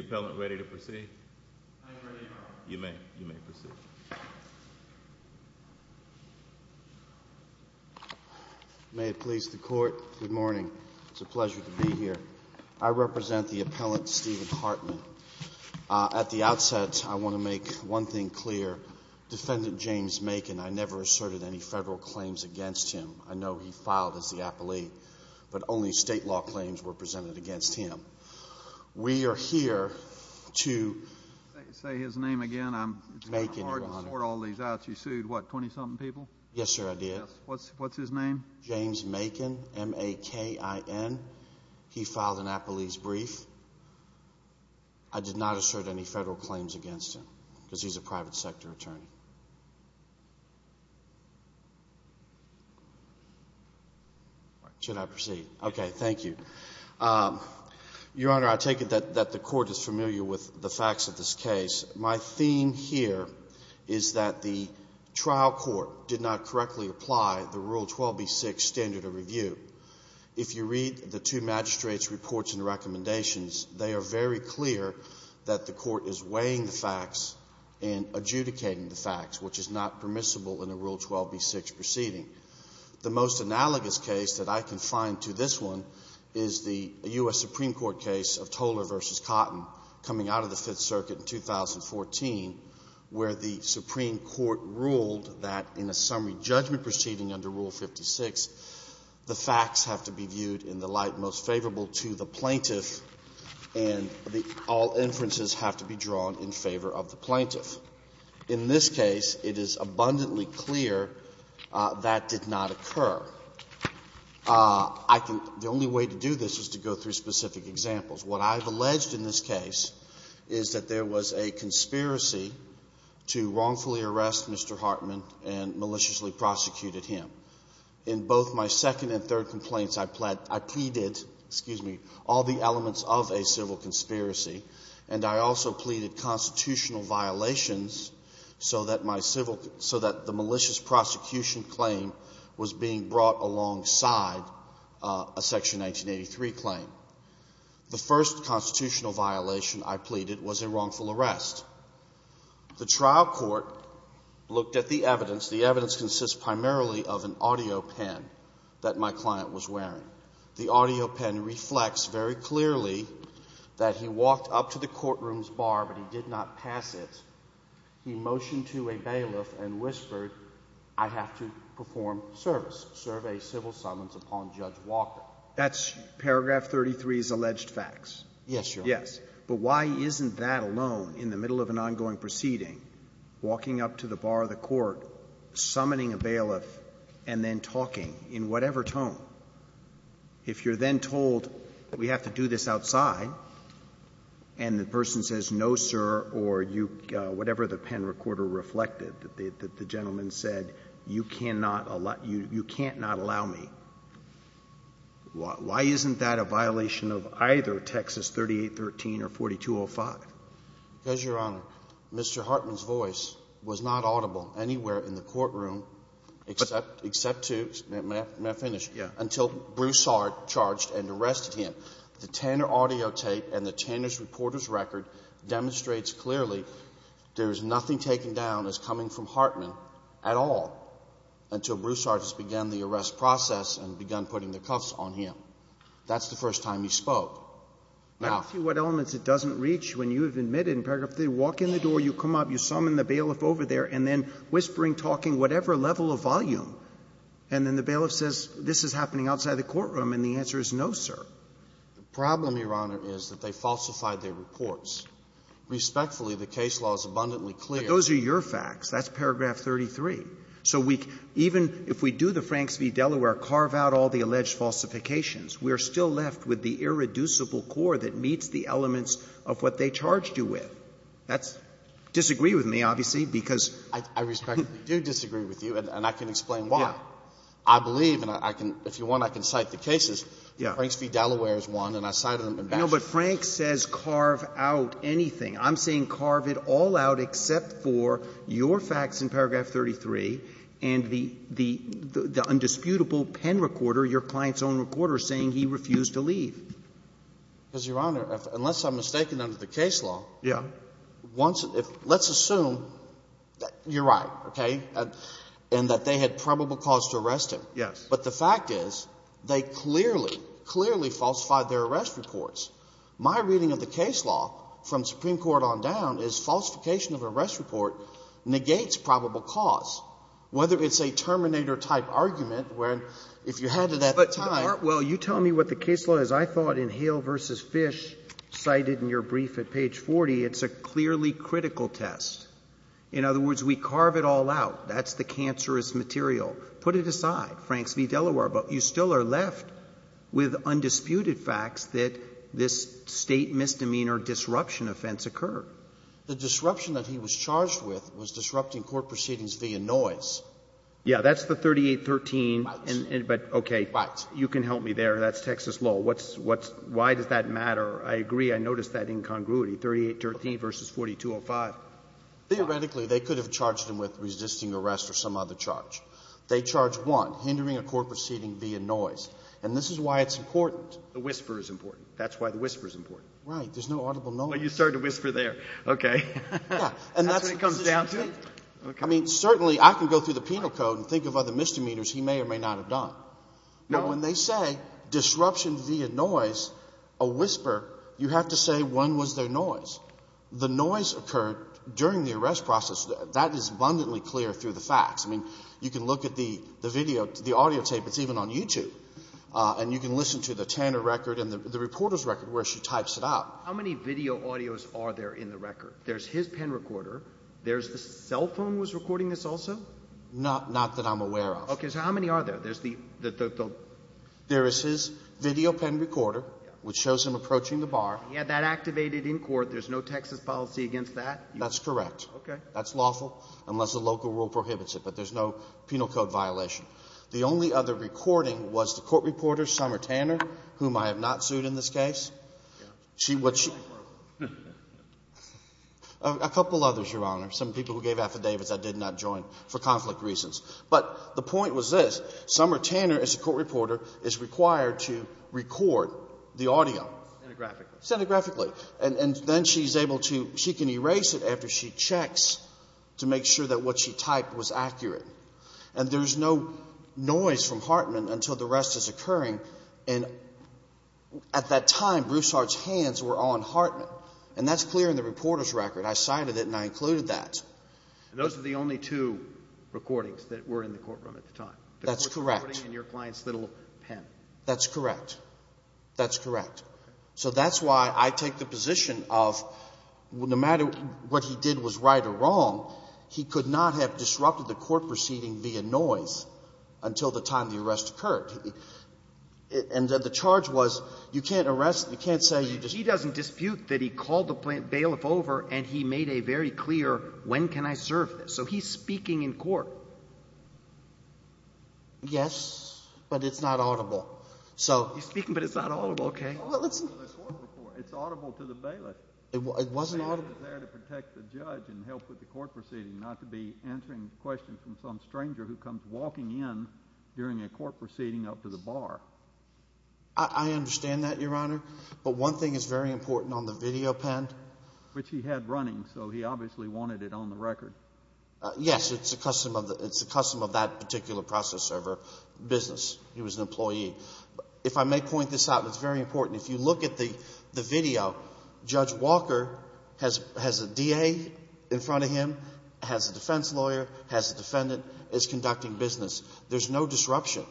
May it please the Court, good morning. It's a pleasure to be here. I represent the Appellant Steven Hartman. At the outset, I want to make one thing clear. Defendant James Macon, I never asserted any Federal claims against him. I know he filed as the appellee, but only State law claims were presented against him. We are here to... Say his name again. I'm... Macon, Your Honor. It's kind of hard to sort all these out. You sued, what, 20-something people? Yes, sir, I did. Yes. What's his name? James Macon, M-A-K-I-N. He filed an appellee's brief. I did not assert any Federal claims against him, because he's a private sector attorney. Should I proceed? Okay, thank you. Your Honor, I take it that the Court is familiar with the facts of this case. My theme here is that the trial court did not correctly apply the Rule 12b-6 standard of review. If you read the two magistrates' reports and recommendations, they are very clear that the Court is weighing the facts and adjudicating the facts, which is not permissible in a Rule 12b-6 proceeding. The most analogous case that I can find to this one is the U.S. Supreme Court case of Toller v. Cotton, coming out of the Fifth Circuit in 2014, where the Supreme Court ruled that in a summary judgment proceeding under Rule 56, the facts have to be viewed in the light most favorable to the plaintiff, and all inferences have to be drawn in favor of the plaintiff. In this case, it is abundantly clear that did not occur. I can — the only way to do this is to go through specific examples. What I've alleged in this case is that the was a conspiracy to wrongfully arrest Mr. Hartman and maliciously prosecuted him. In both my second and third complaints, I pleaded — excuse me — all the elements of a civil conspiracy, and I also pleaded constitutional violations so that my civil — so that the malicious prosecution claim was being brought alongside a Section 1983 claim. The first constitutional violation I pleaded was a wrongful arrest. The trial court looked at the evidence. The evidence consists primarily of an audio pen that my client was wearing. The audio pen reflects very clearly that he walked up to the courtroom's bar, but he did not pass it. He motioned to a bailiff and whispered, I have to perform service, serve a civil summons upon Judge Walker. That's paragraph 33's alleged facts. Yes, Your Honor. Yes. But why isn't that alone in the middle of an ongoing proceeding, walking up to the bar of the court, summoning a bailiff, and then talking in whatever tone? If you're then told we have to do this outside, and the person says, no, sir, or you — whatever the pen recorder reflected, that the gentleman said, you cannot — you can't not allow me, why isn't that a violation of either Texas 3813 or 4205? Because, Your Honor, Mr. Hartman's voice was not audible anywhere in the courtroom except — except to — may I finish? Yes. Until Bruce Hart charged and arrested him. The Tanner audio tape and the Tanner's reporter's record demonstrates clearly there is nothing taken down as coming from the process and begun putting the cuffs on him. That's the first time he spoke. Now — Now see what elements it doesn't reach when you have admitted in paragraph three, walk in the door, you come up, you summon the bailiff over there, and then whispering, talking, whatever level of volume, and then the bailiff says, this is happening outside the courtroom, and the answer is no, sir. The problem, Your Honor, is that they falsified their reports. Respectfully, the case law is abundantly clear. But those are your facts. That's paragraph 33. So we — even if we do the Franks v. Delaware, carve out all the alleged falsifications, we are still left with the irreducible core that meets the elements of what they charged you with. That's — disagree with me, obviously, because — I respectfully do disagree with you, and I can explain why. Yeah. I believe, and I can — if you want, I can cite the cases. Yeah. Franks v. Delaware is one, and I cited them in back — No, but Franks says carve out anything. I'm saying carve it all out except for your facts in paragraph 33 and the undisputable pen recorder, your client's own recorder, saying he refused to leave. Because, Your Honor, unless I'm mistaken under the case law — Yeah. Once — let's assume that you're right, okay, and that they had probable cause to arrest him. Yes. But the fact is, they clearly, clearly falsified their arrest reports. My reading of the case law from Supreme Court on down is falsification of arrest report negates probable cause, whether it's a terminator-type argument where if you had it at the time — But, Art, while you tell me what the case law is, I thought in Hale v. Fish cited in your brief at page 40, it's a clearly critical test. In other words, we carve it all out. That's the cancerous material. Put it aside, Franks v. Delaware, but you still are left with undisputed facts that this State misdemeanor disruption offense occurred. The disruption that he was charged with was disrupting court proceedings via noise. Yeah. That's the 3813, but, okay, you can help me there. That's Texas law. Why does that matter? I agree. I noticed that incongruity, 3813 v. 4205. Theoretically, they could have charged him with resisting arrest or some other charge. They charged one, hindering a court proceeding via noise. And this is why it's important. The whisper is important. That's why the whisper is important. Right. There's no audible noise. Well, you started to whisper there. Okay. Yeah. And that's what it comes down to. I mean, certainly I can go through the penal code and think of other misdemeanors he may or may not have done. No. But when they say disruption via noise, a whisper, you have to say when was there noise. The noise occurred during the arrest process. That is abundantly clear through the facts. I mean, you can look at the video, the audio tape. It's even on YouTube. And you can listen to the Tanner record and the reporter's record where she types it out. How many video audios are there in the record? There's his pen recorder. There's the cell phone was recording this also? Not that I'm aware of. Okay. So how many are there? There's the — There is his video pen recorder, which shows him approaching the bar. He had that activated in court. There's no Texas policy against that? That's correct. Okay. That's lawful, unless the local rule prohibits it. But there's no penal code violation. The only other recording was the court reporter, Summer Tanner, whom I have not sued in this case. A couple others, Your Honor, some people who gave affidavits I did not join for conflict reasons. But the point was this. Summer Tanner, as a court reporter, is required to record the audio. Centigraphically. Centigraphically. And then she's able to — she can erase it after she checks to make sure that what she typed was accurate. And there's no noise from Hartman until the rest is occurring. And at that time, Bruce Hart's hands were on Hartman. And that's clear in the reporter's record. I cited it and I included that. And those are the only two recordings that were in the courtroom at the time? That's correct. The court recording and your client's little pen. That's correct. That's correct. Okay. So that's why I take the position of no matter what he did was right or wrong, he could not have disrupted the court proceeding via noise until the time the arrest occurred. And the charge was you can't arrest — you can't say you — But he doesn't dispute that he called the bailiff over and he made a very clear when can I serve this. So he's speaking in court. Yes, but it's not audible. So — He's speaking, but it's not audible. Okay. It's audible to the bailiff. It wasn't audible. He was there to protect the judge and help with the court proceeding, not to be answering questions from some stranger who comes walking in during a court proceeding up to the bar. I understand that, Your Honor. But one thing is very important on the video pen. Which he had running, so he obviously wanted it on the record. Yes. It's a custom of that particular process server business. He was an employee. If I may point this out, it's very important. If you look at the video, Judge Walker has a DA in front of him, has a defense lawyer, has a defendant. It's conducting business. There's no disruption.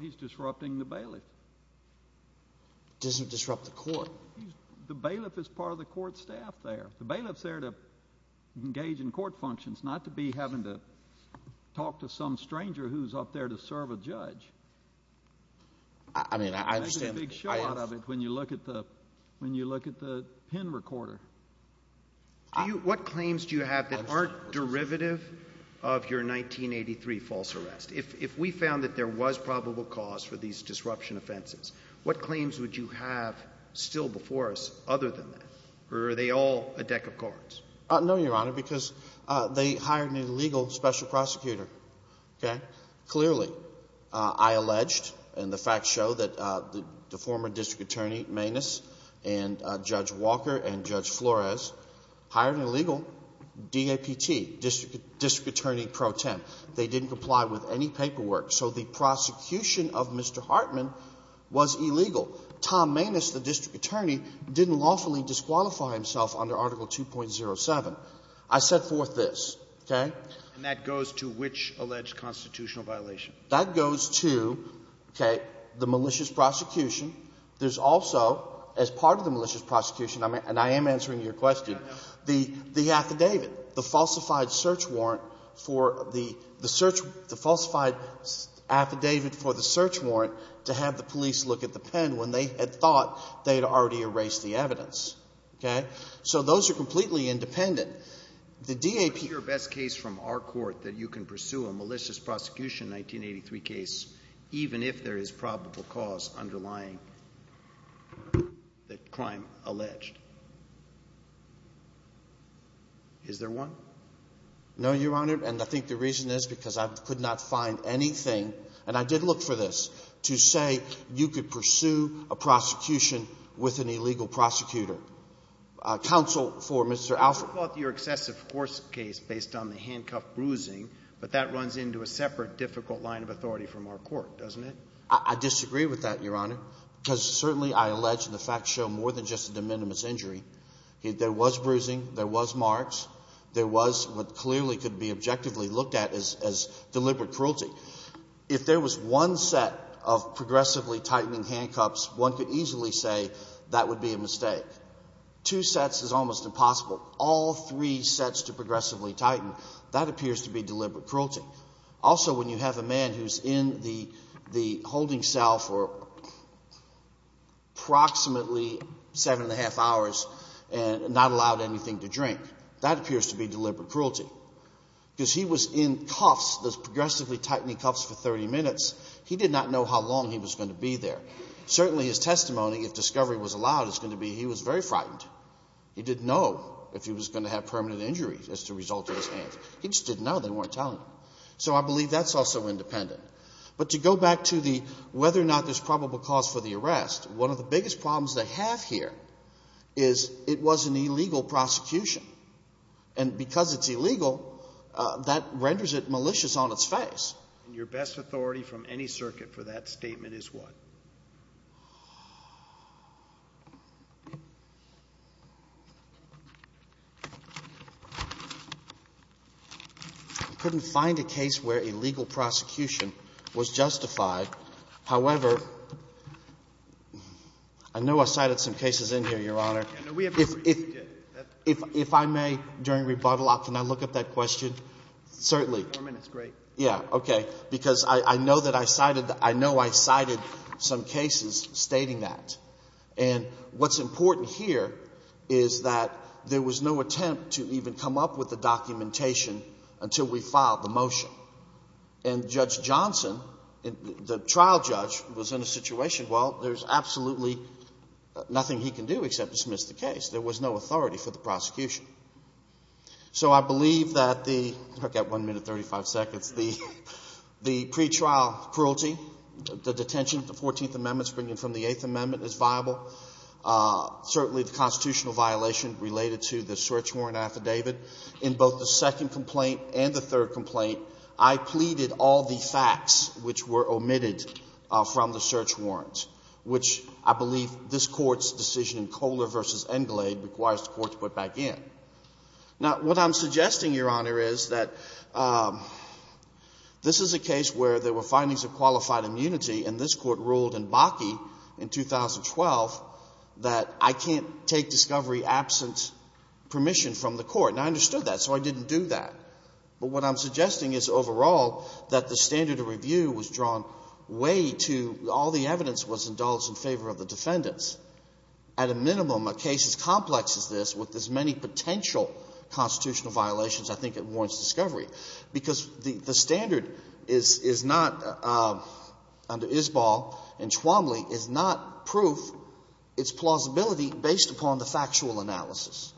He's disrupting the bailiff. Doesn't disrupt the court. The bailiff is part of the court staff there. The bailiff's there to engage in court functions, not to be having to talk to some stranger who's up there to serve a judge. I mean, I understand — When you look at the pen recorder — What claims do you have that aren't derivative of your 1983 false arrest? If we found that there was probable cause for these disruption offenses, what claims would you have still before us other than that? Or are they all a deck of cards? No, Your Honor, because they hired an illegal special prosecutor. Okay? And Judge Walker and Judge Flores hired an illegal DAPT, District Attorney Pro Temp. They didn't comply with any paperwork. So the prosecution of Mr. Hartman was illegal. Tom Maness, the district attorney, didn't lawfully disqualify himself under Article 2.07. I set forth this, okay? And that goes to which alleged constitutional violation? That goes to, okay, the malicious prosecution. There's also, as part of the malicious prosecution, and I am answering your question, the affidavit, the falsified search warrant for the search — the falsified affidavit for the search warrant to have the police look at the pen when they had thought they had already erased the evidence. Okay? So those are completely independent. The DAPT — Is it your best case from our court that you can pursue a malicious prosecution 1983 case even if there is probable cause underlying the crime alleged? Is there one? No, Your Honor. And I think the reason is because I could not find anything — and I did look for this — to say you could pursue a prosecution with an illegal prosecutor. Counsel for Mr. Alford? Well, your excessive force case based on the handcuffed bruising, but that runs into a separate difficult line of authority from our court, doesn't it? I disagree with that, Your Honor, because certainly, I allege, and the facts show more than just a de minimis injury. There was bruising. There was marks. There was what clearly could be objectively looked at as deliberate cruelty. If there was one set of progressively tightening handcuffs, one could easily say that would be a mistake. Two sets is almost impossible. All three sets to progressively tighten, that appears to be deliberate cruelty. Also, when you have a man who's in the holding cell for approximately seven and a half hours and not allowed anything to drink, that appears to be deliberate cruelty because he was in cuffs, those progressively tightening cuffs, for 30 minutes. He did not know how long he was going to be there. Certainly, his testimony, if discovery was allowed, is going to be he was very frightened. He didn't know if he was going to have permanent injuries as a result of his hands. He just didn't know. They weren't telling him. So I believe that's also independent. But to go back to the whether or not there's probable cause for the arrest, one of the biggest problems they have here is it was an illegal prosecution. And because it's illegal, that renders it malicious on its face. And your best authority from any circuit for that statement is what? I couldn't find a case where illegal prosecution was justified. However, I know I cited some cases in here, Your Honor. If I may, during rebuttal, can I look at that question? Certainly. It's great. Yeah, okay. Because I know that I cited some cases stating that. And what's important here is that there was no attempt to even come up with the documentation until we filed the motion. And Judge Johnson, the trial judge, was in a situation, well, there's absolutely nothing he can do except dismiss the case. There was no authority for the prosecution. So I believe that the pre-trial cruelty, the detention of the 14th Amendment, springing from the 8th Amendment, is viable. Certainly the constitutional violation related to the search warrant affidavit. In both the second complaint and the third complaint, I pleaded all the facts which were omitted from the search warrants, which I believe this Court's decision in Kohler v. Englade requires the Court to put back in. Now, what I'm suggesting, Your Honor, is that this is a case where there were findings of qualified immunity, and this Court ruled in Bakke in 2012 that I can't take discovery absent permission from the Court. And I understood that, so I didn't do that. But what I'm suggesting is, overall, that the standard of review was drawn way to all the evidence was indulged in favor of the defendants. At a minimum, a case as complex as this, with as many potential constitutional violations, I think it warrants discovery, because the standard is not, under Isball and Twombly, is not proof. It's plausibility based upon the factual analysis.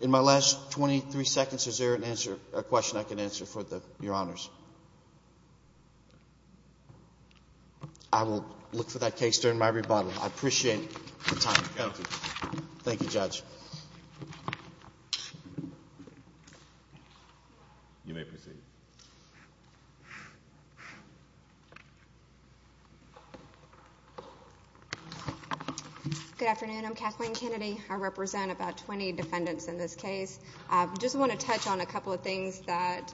In my last 23 seconds, is there an answer, a question I can answer for the Your Honors? I will look for that case during my rebuttal. I appreciate your time. Thank you, Judge. You may proceed. Good afternoon. I'm Kathleen Kennedy. I represent about 20 defendants in this case. I just want to touch on a couple of things that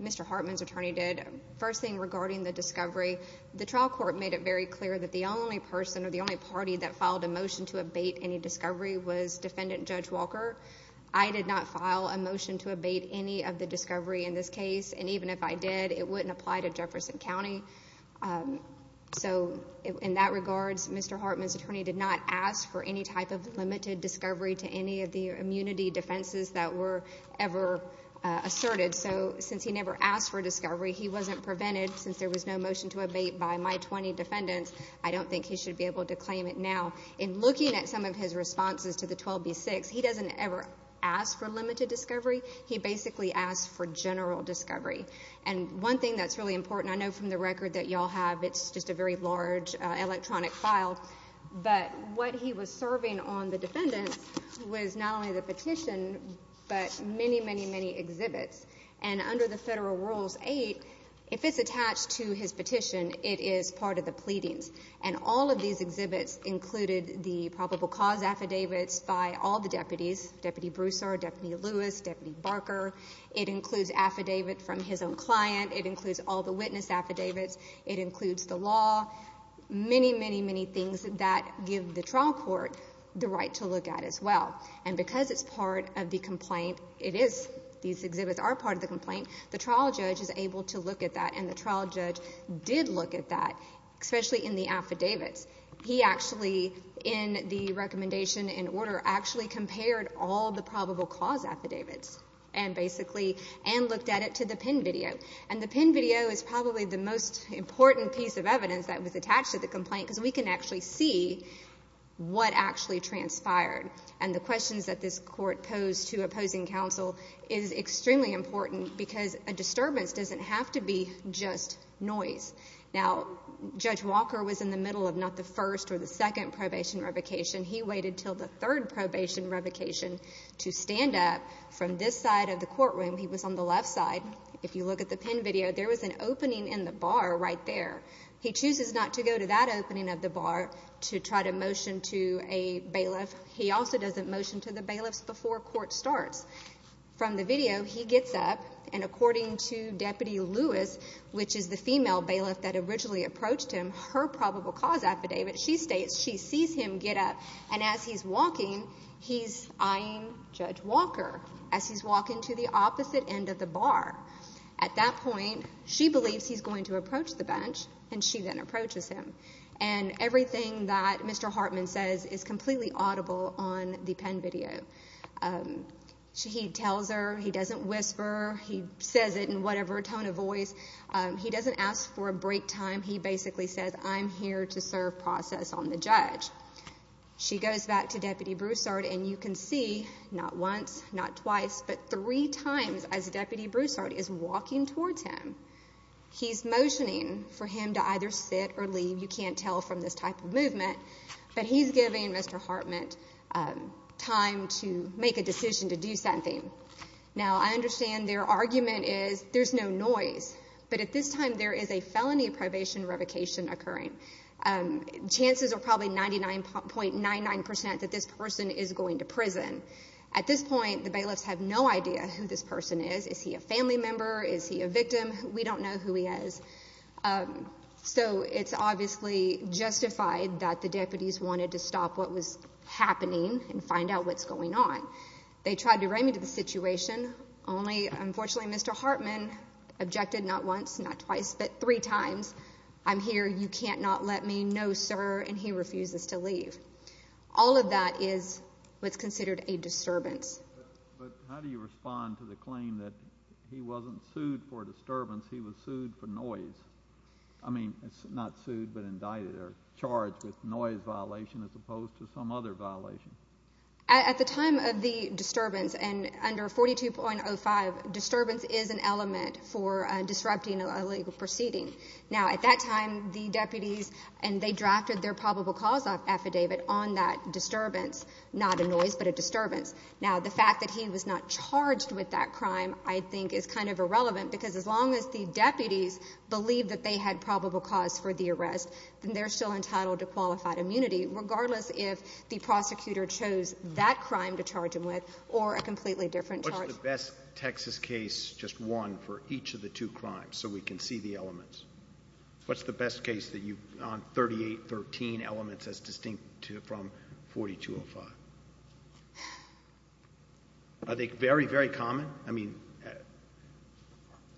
Mr. Hartman's attorney did. First thing, regarding the discovery, the trial court made it very clear that the only person or the only party that filed a motion to abate any discovery was Defendant Judge Walker. I did not file a motion to abate any of the discovery in this case. Even if I did, it wouldn't apply to Jefferson County. In that regards, Mr. Hartman's attorney did not ask for any type of limited discovery to any of the immunity defenses that were ever asserted. Since he never asked for discovery, he wasn't prevented, since there was no motion to abate by my 20 defendants, I don't think he should be able to claim it now. In looking at some of his responses to the 12B6, he doesn't ever ask for limited discovery. He basically asked for general discovery. One thing that's really important, I know from the record that you all have, it's just a very large electronic file, but what he was serving on the defendants was not only the petition, but many, many, many exhibits. And under the Federal Rules 8, if it's attached to his petition, it is part of the pleadings. And all of these exhibits included the probable cause affidavits by all the deputies, Deputy Broussard, Deputy Lewis, Deputy Barker. It includes affidavit from his own client. It includes all the witness affidavits. It includes the law. Many, many, many things that give the trial court the right to look at as well. And because it's part of the complaint, it is, these exhibits are part of the complaint, the trial judge is able to look at that, and the trial judge did look at that, especially in the affidavits. He actually, in the recommendation in order, actually compared all the probable cause affidavits, and basically, and looked at it to the pin video. And the pin video is probably the most important piece of evidence that was attached to the complaint, because we can actually see what actually transpired. And the questions that this court posed to opposing counsel is extremely important, because a disturbance doesn't have to be just noise. Now, Judge Walker was in the middle of not the first or the second probation revocation. He waited until the third probation revocation to stand up from this side of the courtroom. He was on the left side. If you look at the pin video, there was an opening in the bar right there. He chooses not to go to that opening of the bar to try to motion to a bailiff. He also doesn't motion to the bailiffs before court starts. From the video, he gets up, and according to Deputy Lewis, which is the female bailiff that originally approached him, her probable cause affidavit, she states she sees him get up, and as he's walking, he's eyeing Judge Walker, as he's walking to the opposite end of the bar. At that point, she believes he's going to approach the bench, and she then approaches him. And everything that Mr. Hartman says is completely audible on the pin video. He tells her. He doesn't whisper. He says it in whatever tone of voice. He doesn't ask for a break time. He basically says, I'm here to serve process on the judge. She goes back to Deputy Broussard, and you can see, not once, not twice, but three times as Deputy Broussard is walking towards him. He's motioning for him to either sit or leave. You can't tell from this type of movement. But he's giving Mr. Hartman time to make a decision to do something. Now, I understand their argument is there's no noise. But at this time, there is a felony probation revocation occurring. Chances are probably 99.99% that this person is going to prison. At this point, the bailiffs have no idea who this person is. Is he a family member? Is he a victim? We don't know who he is. So it's obviously justified that the deputies wanted to stop what was happening and find out what's going on. They tried to write me to the situation. Only, unfortunately, Mr. Hartman objected not once, not twice, but three times. I'm here. You can't not let me. No, sir. And he refuses to leave. All of that is what's considered a disturbance. But how do you respond to the claim that he wasn't sued for disturbance, he was sued for noise? I mean, not sued, but indicted or charged with noise violation as opposed to some other violation. At the time of the disturbance, and under 42.05, disturbance is an element for disrupting a legal proceeding. Now, at that time, the deputies, and they drafted their probable cause affidavit on that disturbance, not a noise but a disturbance. Now, the fact that he was not charged with that crime I think is kind of irrelevant because as long as the deputies believe that they had probable cause for the arrest, then they're still entitled to qualified immunity, regardless if the prosecutor chose that crime to charge him with or a completely different charge. What's the best Texas case, just one, for each of the two crimes, so we can see the elements? What's the best case on 38.13 elements as distinct from 42.05? Are they very, very common? I mean,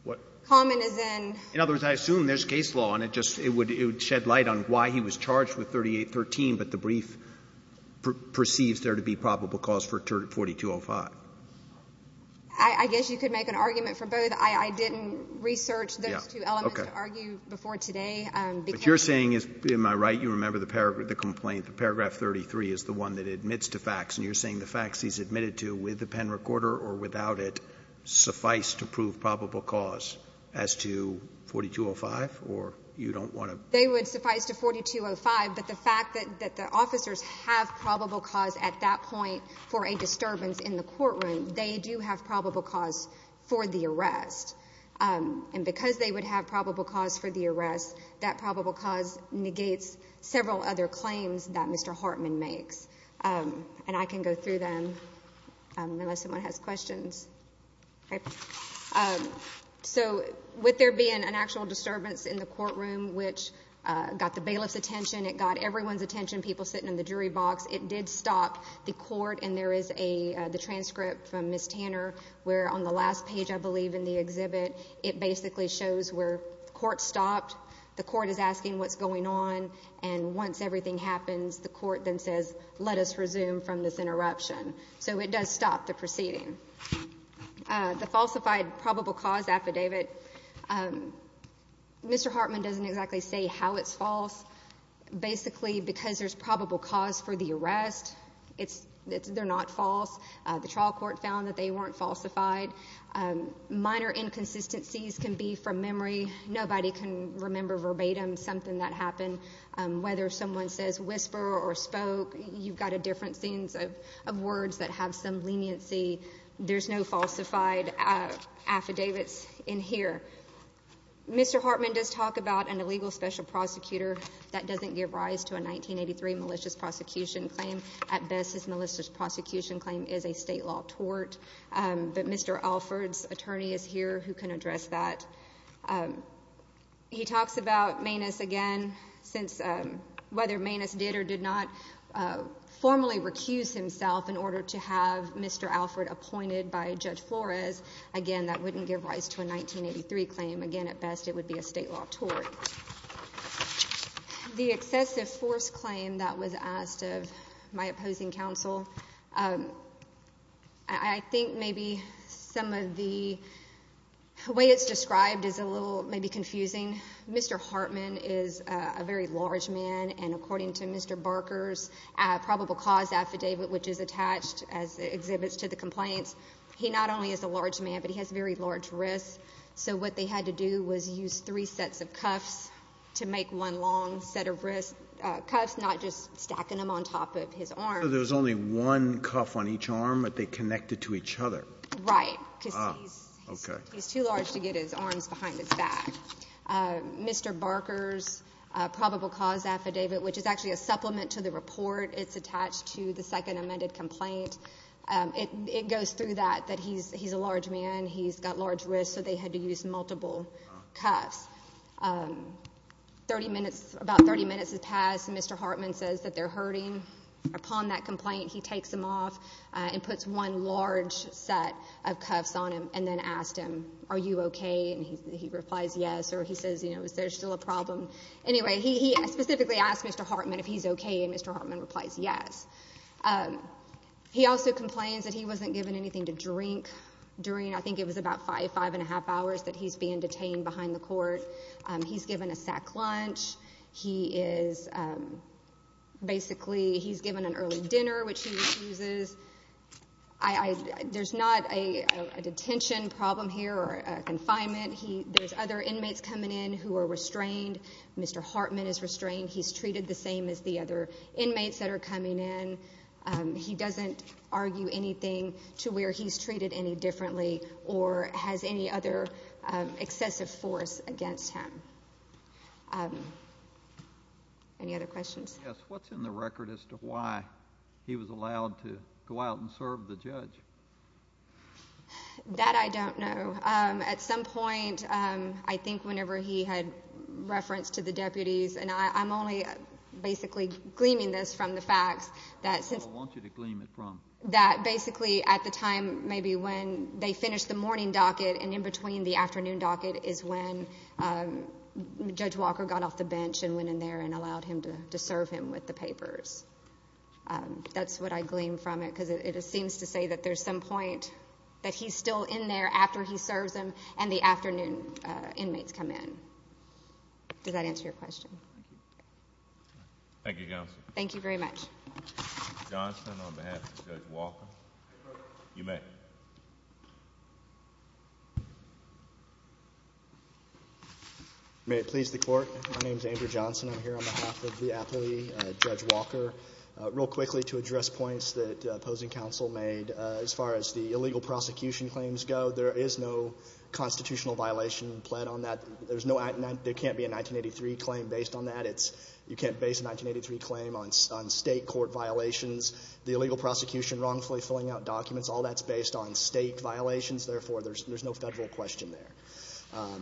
what? Common as in? In other words, I assume there's case law, and it would shed light on why he was charged with 38.13, but the brief perceives there to be probable cause for 42.05. I guess you could make an argument for both. I didn't research those two elements to argue before today. What you're saying is, am I right, you remember the complaint, paragraph 33 is the one that admits to facts, and you're saying the facts he's admitted to with the pen recorder or without it suffice to prove probable cause as to 42.05, or you don't want to? They would suffice to 42.05, but the fact that the officers have probable cause at that point for a disturbance in the courtroom, they do have probable cause for the arrest. And because they would have probable cause for the arrest, that probable cause negates several other claims that Mr. Hartman makes. And I can go through them unless someone has questions. Okay. So with there being an actual disturbance in the courtroom, which got the bailiff's attention, it got everyone's attention, people sitting in the jury box, it did stop the court, and there is the transcript from Ms. Tanner where on the last page, I believe, in the exhibit, it basically shows where the court stopped. The court is asking what's going on, and once everything happens, the court then says, let us resume from this interruption. So it does stop the proceeding. The falsified probable cause affidavit, Mr. Hartman doesn't exactly say how it's false. Basically, because there's probable cause for the arrest, they're not false. The trial court found that they weren't falsified. Minor inconsistencies can be from memory. Nobody can remember verbatim something that happened. Whether someone says whisper or spoke, you've got different scenes of words that have some leniency. There's no falsified affidavits in here. Mr. Hartman does talk about an illegal special prosecutor that doesn't give rise to a 1983 malicious prosecution claim. At best, his malicious prosecution claim is a state law tort, but Mr. Alford's attorney is here who can address that. He talks about Manus again, whether Manus did or did not formally recuse himself in order to have Mr. Alford appointed by Judge Flores. Again, that wouldn't give rise to a 1983 claim. Again, at best, it would be a state law tort. The excessive force claim that was asked of my opposing counsel, I think maybe some of the way it's described is a little maybe confusing. Mr. Hartman is a very large man, and according to Mr. Barker's probable cause affidavit, which is attached as exhibits to the complaints, he not only is a large man, but he has very large wrists, so what they had to do was use three sets of cuffs to make one long set of cuffs, not just stacking them on top of his arm. So there was only one cuff on each arm, but they connected to each other. Right, because he's too large to get his arms behind his back. Mr. Barker's probable cause affidavit, which is actually a supplement to the report. It's attached to the second amended complaint. It goes through that, that he's a large man, he's got large wrists, so they had to use multiple cuffs. About 30 minutes has passed, and Mr. Hartman says that they're hurting. Upon that complaint, he takes them off and puts one large set of cuffs on him and then asks him, are you okay? And he replies yes, or he says, you know, is there still a problem? Anyway, he specifically asks Mr. Hartman if he's okay, and Mr. Hartman replies yes. He also complains that he wasn't given anything to drink during, I think it was about five, five-and-a-half hours, that he's being detained behind the court. He's given a sack lunch. He is basically given an early dinner, which he refuses. There's not a detention problem here or a confinement. There's other inmates coming in who are restrained. Mr. Hartman is restrained. He's treated the same as the other inmates that are coming in. He doesn't argue anything to where he's treated any differently or has any other excessive force against him. Any other questions? Yes, what's in the record as to why he was allowed to go out and serve the judge? That I don't know. At some point, I think whenever he had reference to the deputies, and I'm only basically gleaming this from the facts. I don't want you to gleam it from. That basically at the time maybe when they finished the morning docket and in between the afternoon docket is when Judge Walker got off the bench and went in there and allowed him to serve him with the papers. That's what I gleam from it because it seems to say that there's some point that he's still in there after he serves him and the afternoon inmates come in. Does that answer your question? Thank you, counsel. Thank you very much. Mr. Johnson on behalf of Judge Walker. You may. May it please the court. My name is Andrew Johnson. I'm here on behalf of the athlete, Judge Walker. Real quickly to address points that opposing counsel made, as far as the illegal prosecution claims go, there is no constitutional violation pled on that. There can't be a 1983 claim based on that. You can't base a 1983 claim on state court violations. The illegal prosecution wrongfully filling out documents, all that's based on state violations. Therefore, there's no federal question there.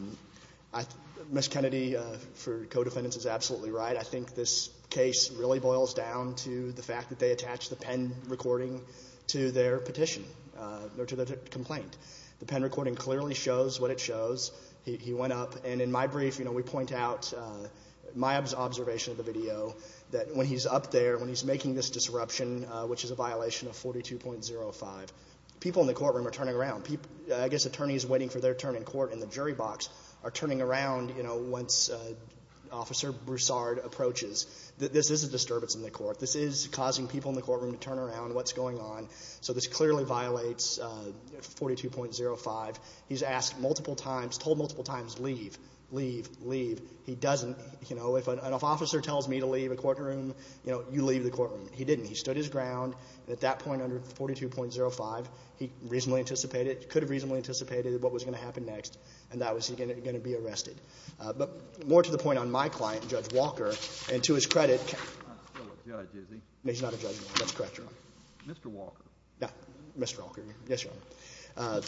Ms. Kennedy for co-defendants is absolutely right. I think this case really boils down to the fact that they attached the pen recording to their petition or to their complaint. The pen recording clearly shows what it shows. He went up. In my brief, we point out my observation of the video, that when he's up there, when he's making this disruption, which is a violation of 42.05, people in the courtroom are turning around. I guess attorneys waiting for their turn in court in the jury box are turning around once Officer Broussard approaches. This is a disturbance in the court. This is causing people in the courtroom to turn around, what's going on. So this clearly violates 42.05. He's asked multiple times, told multiple times, leave, leave, leave. He doesn't. If an officer tells me to leave a courtroom, you leave the courtroom. He didn't. He stood his ground. At that point under 42.05, he reasonably anticipated, could have reasonably anticipated what was going to happen next, and that was he going to be arrested. But more to the point on my client, Judge Walker, and to his credit. He's not a judge, is he? He's not a judge. That's correct, Your Honor. Mr. Walker. Mr. Walker. Yes, Your Honor.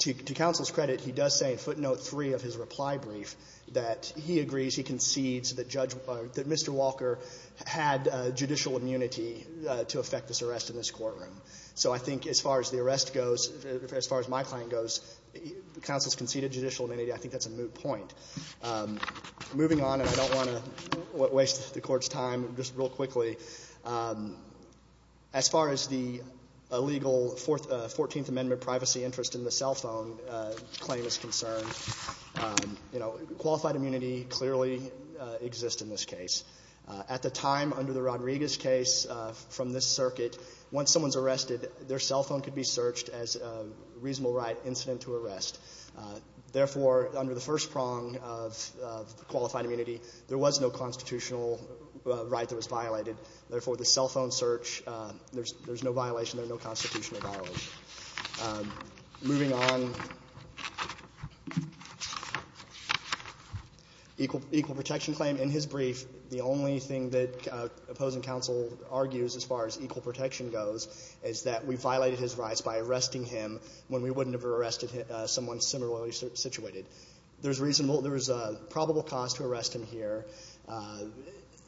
To counsel's credit, he does say in footnote 3 of his reply brief that he agrees, he concedes that Judge Walker, that Mr. Walker had judicial immunity to effect this arrest in this courtroom. So I think as far as the arrest goes, as far as my client goes, counsel's conceded judicial immunity. I think that's a moot point. Moving on, and I don't want to waste the Court's time, just real quickly. As far as the illegal 14th Amendment privacy interest in the cell phone claim is concerned, you know, qualified immunity clearly exists in this case. At the time under the Rodriguez case from this circuit, once someone's arrested, their cell phone could be searched as a reasonable right incident to arrest. Therefore, under the first prong of qualified immunity, there was no constitutional right that was violated. Therefore, the cell phone search, there's no violation. There's no constitutional violation. Moving on. Equal protection claim. In his brief, the only thing that opposing counsel argues as far as equal protection goes is that we violated his rights by arresting him when we wouldn't have arrested someone similarly situated. There's probable cause to arrest him here.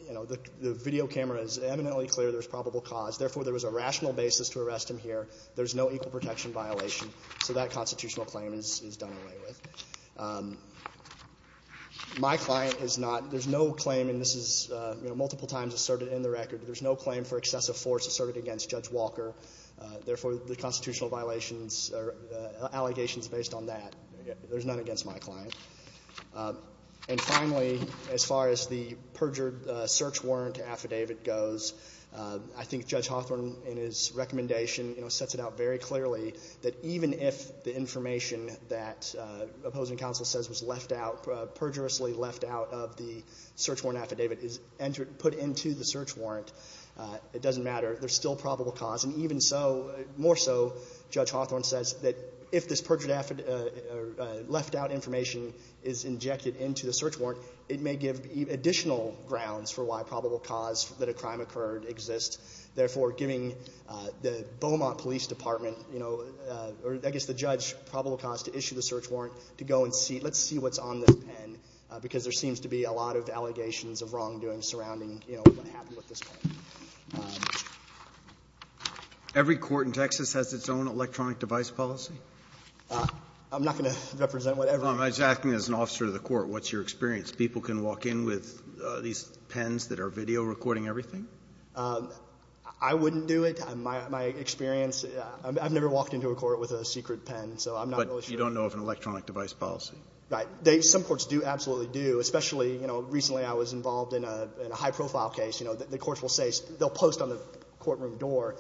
You know, the video camera is eminently clear there's probable cause. Therefore, there was a rational basis to arrest him here. There's no equal protection violation. So that constitutional claim is done away with. My client is not. There's no claim, and this is, you know, multiple times asserted in the record. There's no claim for excessive force asserted against Judge Walker. Therefore, the constitutional violations are allegations based on that. There's none against my client. And finally, as far as the perjured search warrant affidavit goes, I think Judge Hawthorne in his recommendation, you know, sets it out very clearly that even if the information that opposing counsel says was left out, perjurously left out of the search warrant affidavit is put into the search warrant, it doesn't matter. There's still probable cause. And even so, more so, Judge Hawthorne says that if this perjured affidavit, left out information is injected into the search warrant, it may give additional grounds for why probable cause that a crime occurred exists. Therefore, giving the Beaumont Police Department, you know, or I guess the judge probable cause to issue the search warrant to go and see, let's see what's on this pen because there seems to be a lot of allegations of wrongdoing surrounding, you know, what happened with this pen. Every court in Texas has its own electronic device policy? I'm not going to represent whatever. I was asking as an officer of the court, what's your experience? People can walk in with these pens that are video recording everything? I wouldn't do it. My experience, I've never walked into a court with a secret pen, so I'm not really sure. But you don't know of an electronic device policy? Right. Some courts do, absolutely do, especially, you know, in a high-profile case, you know, the courts will say, they'll post on the courtroom door,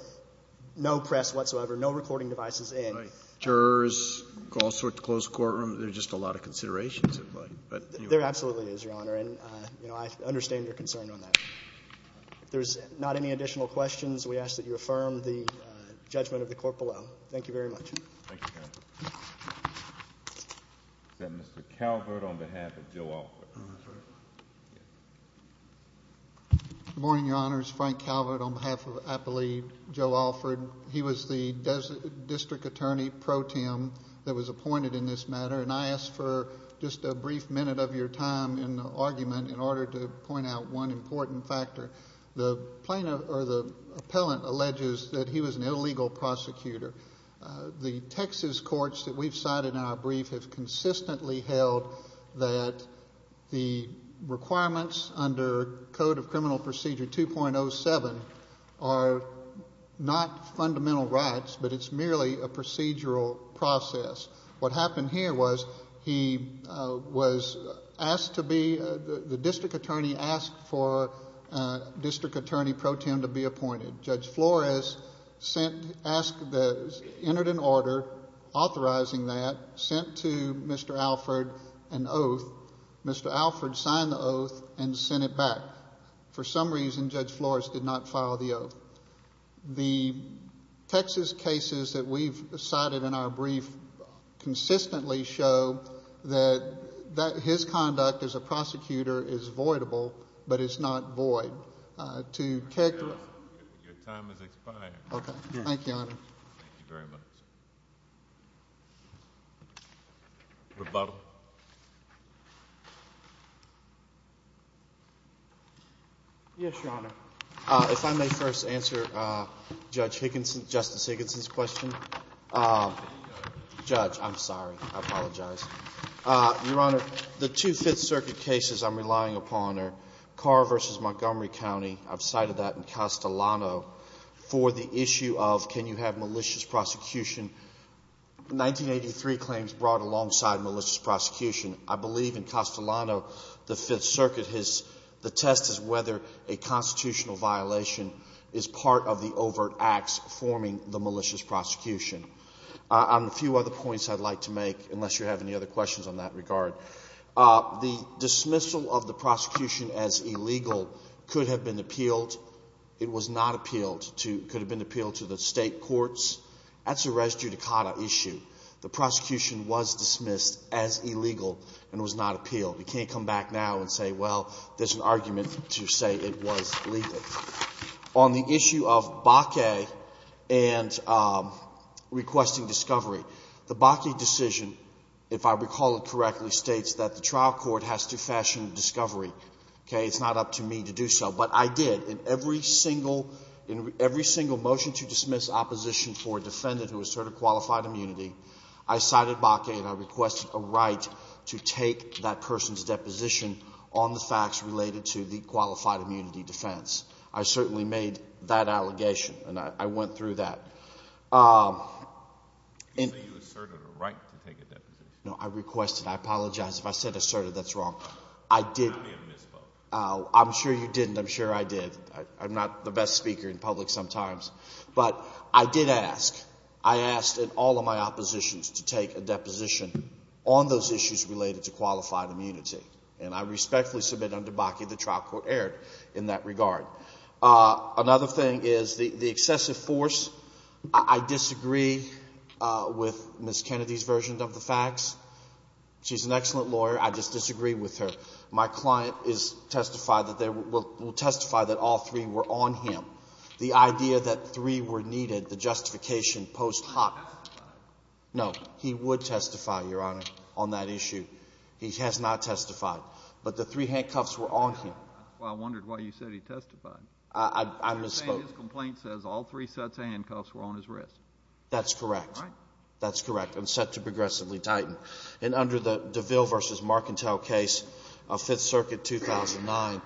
no press whatsoever, no recording devices in. Jurors call for it to close the courtroom? There's just a lot of considerations. There absolutely is, Your Honor, and, you know, I understand your concern on that. If there's not any additional questions, we ask that you affirm the judgment of the court below. Thank you very much. Thank you, Your Honor. Is that Mr. Calvert on behalf of Joe Alford? Good morning, Your Honors. Frank Calvert on behalf of, I believe, Joe Alford. He was the district attorney pro tem that was appointed in this matter, and I asked for just a brief minute of your time in the argument in order to point out one important factor. The plaintiff or the appellant alleges that he was an illegal prosecutor. The Texas courts that we've cited in our brief have consistently held that the requirements under Code of Criminal Procedure 2.07 are not fundamental rights, but it's merely a procedural process. What happened here was he was asked to be the district attorney asked for district attorney pro tem to be appointed. Judge Flores entered an order authorizing that, sent to Mr. Alford an oath. Mr. Alford signed the oath and sent it back. For some reason, Judge Flores did not file the oath. The Texas cases that we've cited in our brief consistently show that his conduct as a prosecutor is voidable, but it's not void. Your time has expired. Okay. Thank you, Your Honor. Thank you very much. Rebuttal. Yes, Your Honor. If I may first answer Justice Higginson's question. Judge, I'm sorry. I apologize. Your Honor, the two Fifth Circuit cases I'm relying upon are Carr v. Montgomery County. I've cited that in Castellano for the issue of can you have malicious prosecution. Nineteen eighty-three claims brought alongside malicious prosecution. I believe in Castellano, the Fifth Circuit, the test is whether a constitutional violation is part of the overt acts forming the malicious prosecution. A few other points I'd like to make, unless you have any other questions on that regard. The dismissal of the prosecution as illegal could have been appealed. It was not appealed. It could have been appealed to the state courts. That's a res judicata issue. The prosecution was dismissed as illegal and was not appealed. You can't come back now and say, well, there's an argument to say it was legal. On the issue of Bakke and requesting discovery, the Bakke decision, if I recall it correctly, states that the trial court has to fashion discovery. It's not up to me to do so. But I did. In every single motion to dismiss opposition for a defendant who asserted qualified immunity, I cited Bakke and I requested a right to take that person's deposition on the facts related to the qualified immunity defense. I certainly made that allegation, and I went through that. You asserted a right to take a deposition. No, I requested. I apologize. If I said asserted, that's wrong. I did. I'm sure you didn't. I'm sure I did. I'm not the best speaker in public sometimes. But I did ask. I asked in all of my oppositions to take a deposition on those issues related to qualified immunity. And I respectfully submit under Bakke the trial court erred in that regard. Another thing is the excessive force. I disagree with Ms. Kennedy's version of the facts. She's an excellent lawyer. I just disagree with her. My client will testify that all three were on him. The idea that three were needed, the justification post hoc. No, he would testify, Your Honor, on that issue. He has not testified. But the three handcuffs were on him. I wondered why you said he testified. I misspoke. You're saying his complaint says all three sets of handcuffs were on his wrist. That's correct. All right. That's correct. And set to progressively tighten. And under the DeVille v. Marcantel case of Fifth Circuit 2009,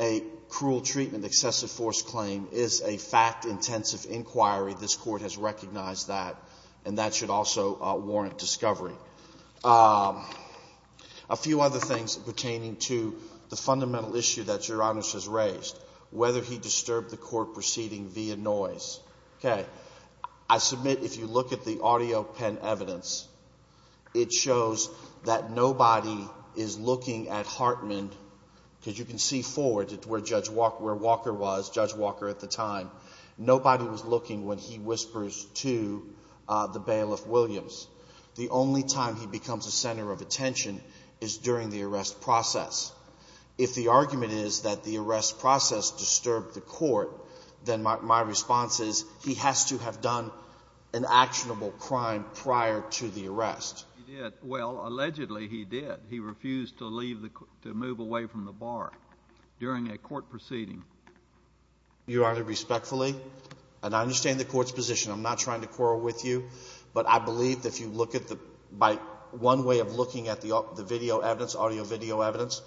a cruel treatment excessive force claim is a fact-intensive inquiry. This Court has recognized that. And that should also warrant discovery. A few other things pertaining to the fundamental issue that Your Honor has raised, whether he disturbed the court proceeding via noise. Okay. I submit if you look at the audio pen evidence, it shows that nobody is looking at Hartman, because you can see forward where Judge Walker was, Judge Walker at the time. Nobody was looking when he whispers to the bailiff, Williams. The only time he becomes a center of attention is during the arrest process. If the argument is that the arrest process disturbed the court, then my response is he has to have done an actionable crime prior to the arrest. He did. Well, allegedly he did. He refused to leave the – to move away from the bar during a court proceeding. Your Honor, respectfully, and I understand the Court's position. I'm not trying to quarrel with you, but I believe that if you look at the – by one way of looking at the video evidence, audio-video evidence,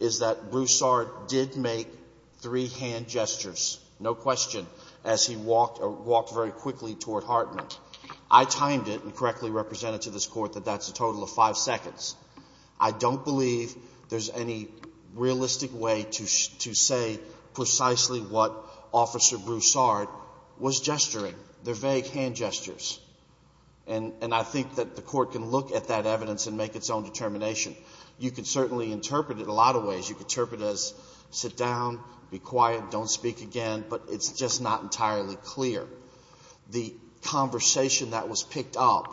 is that Broussard did make three hand gestures, no question, as he walked or walked very quickly toward Hartman. I timed it and correctly represented to this Court that that's a total of five seconds. I don't believe there's any realistic way to say precisely what Officer Broussard was gesturing. They're vague hand gestures, and I think that the Court can look at that evidence and make its own determination. You can certainly interpret it a lot of ways. You can interpret it as sit down, be quiet, don't speak again, but it's just not entirely clear. The conversation that was picked up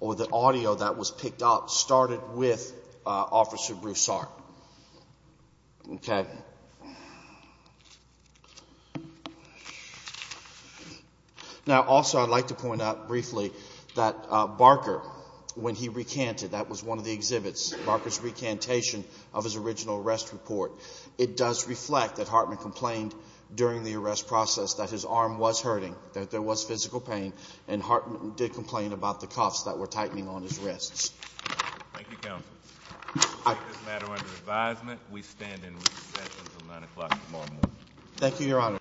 or the audio that was picked up started with Officer Broussard. Okay. Now, also, I'd like to point out briefly that Barker, when he recanted, that was one of the exhibits, Barker's recantation of his original arrest report, it does reflect that Hartman complained during the arrest process that his arm was hurting, that there was physical pain, and Hartman did complain about the cuffs that were tightening on his wrists. Thank you, Counsel. I take this matter under advisement. We stand in recess until 9 o'clock tomorrow morning. Thank you, Your Honor.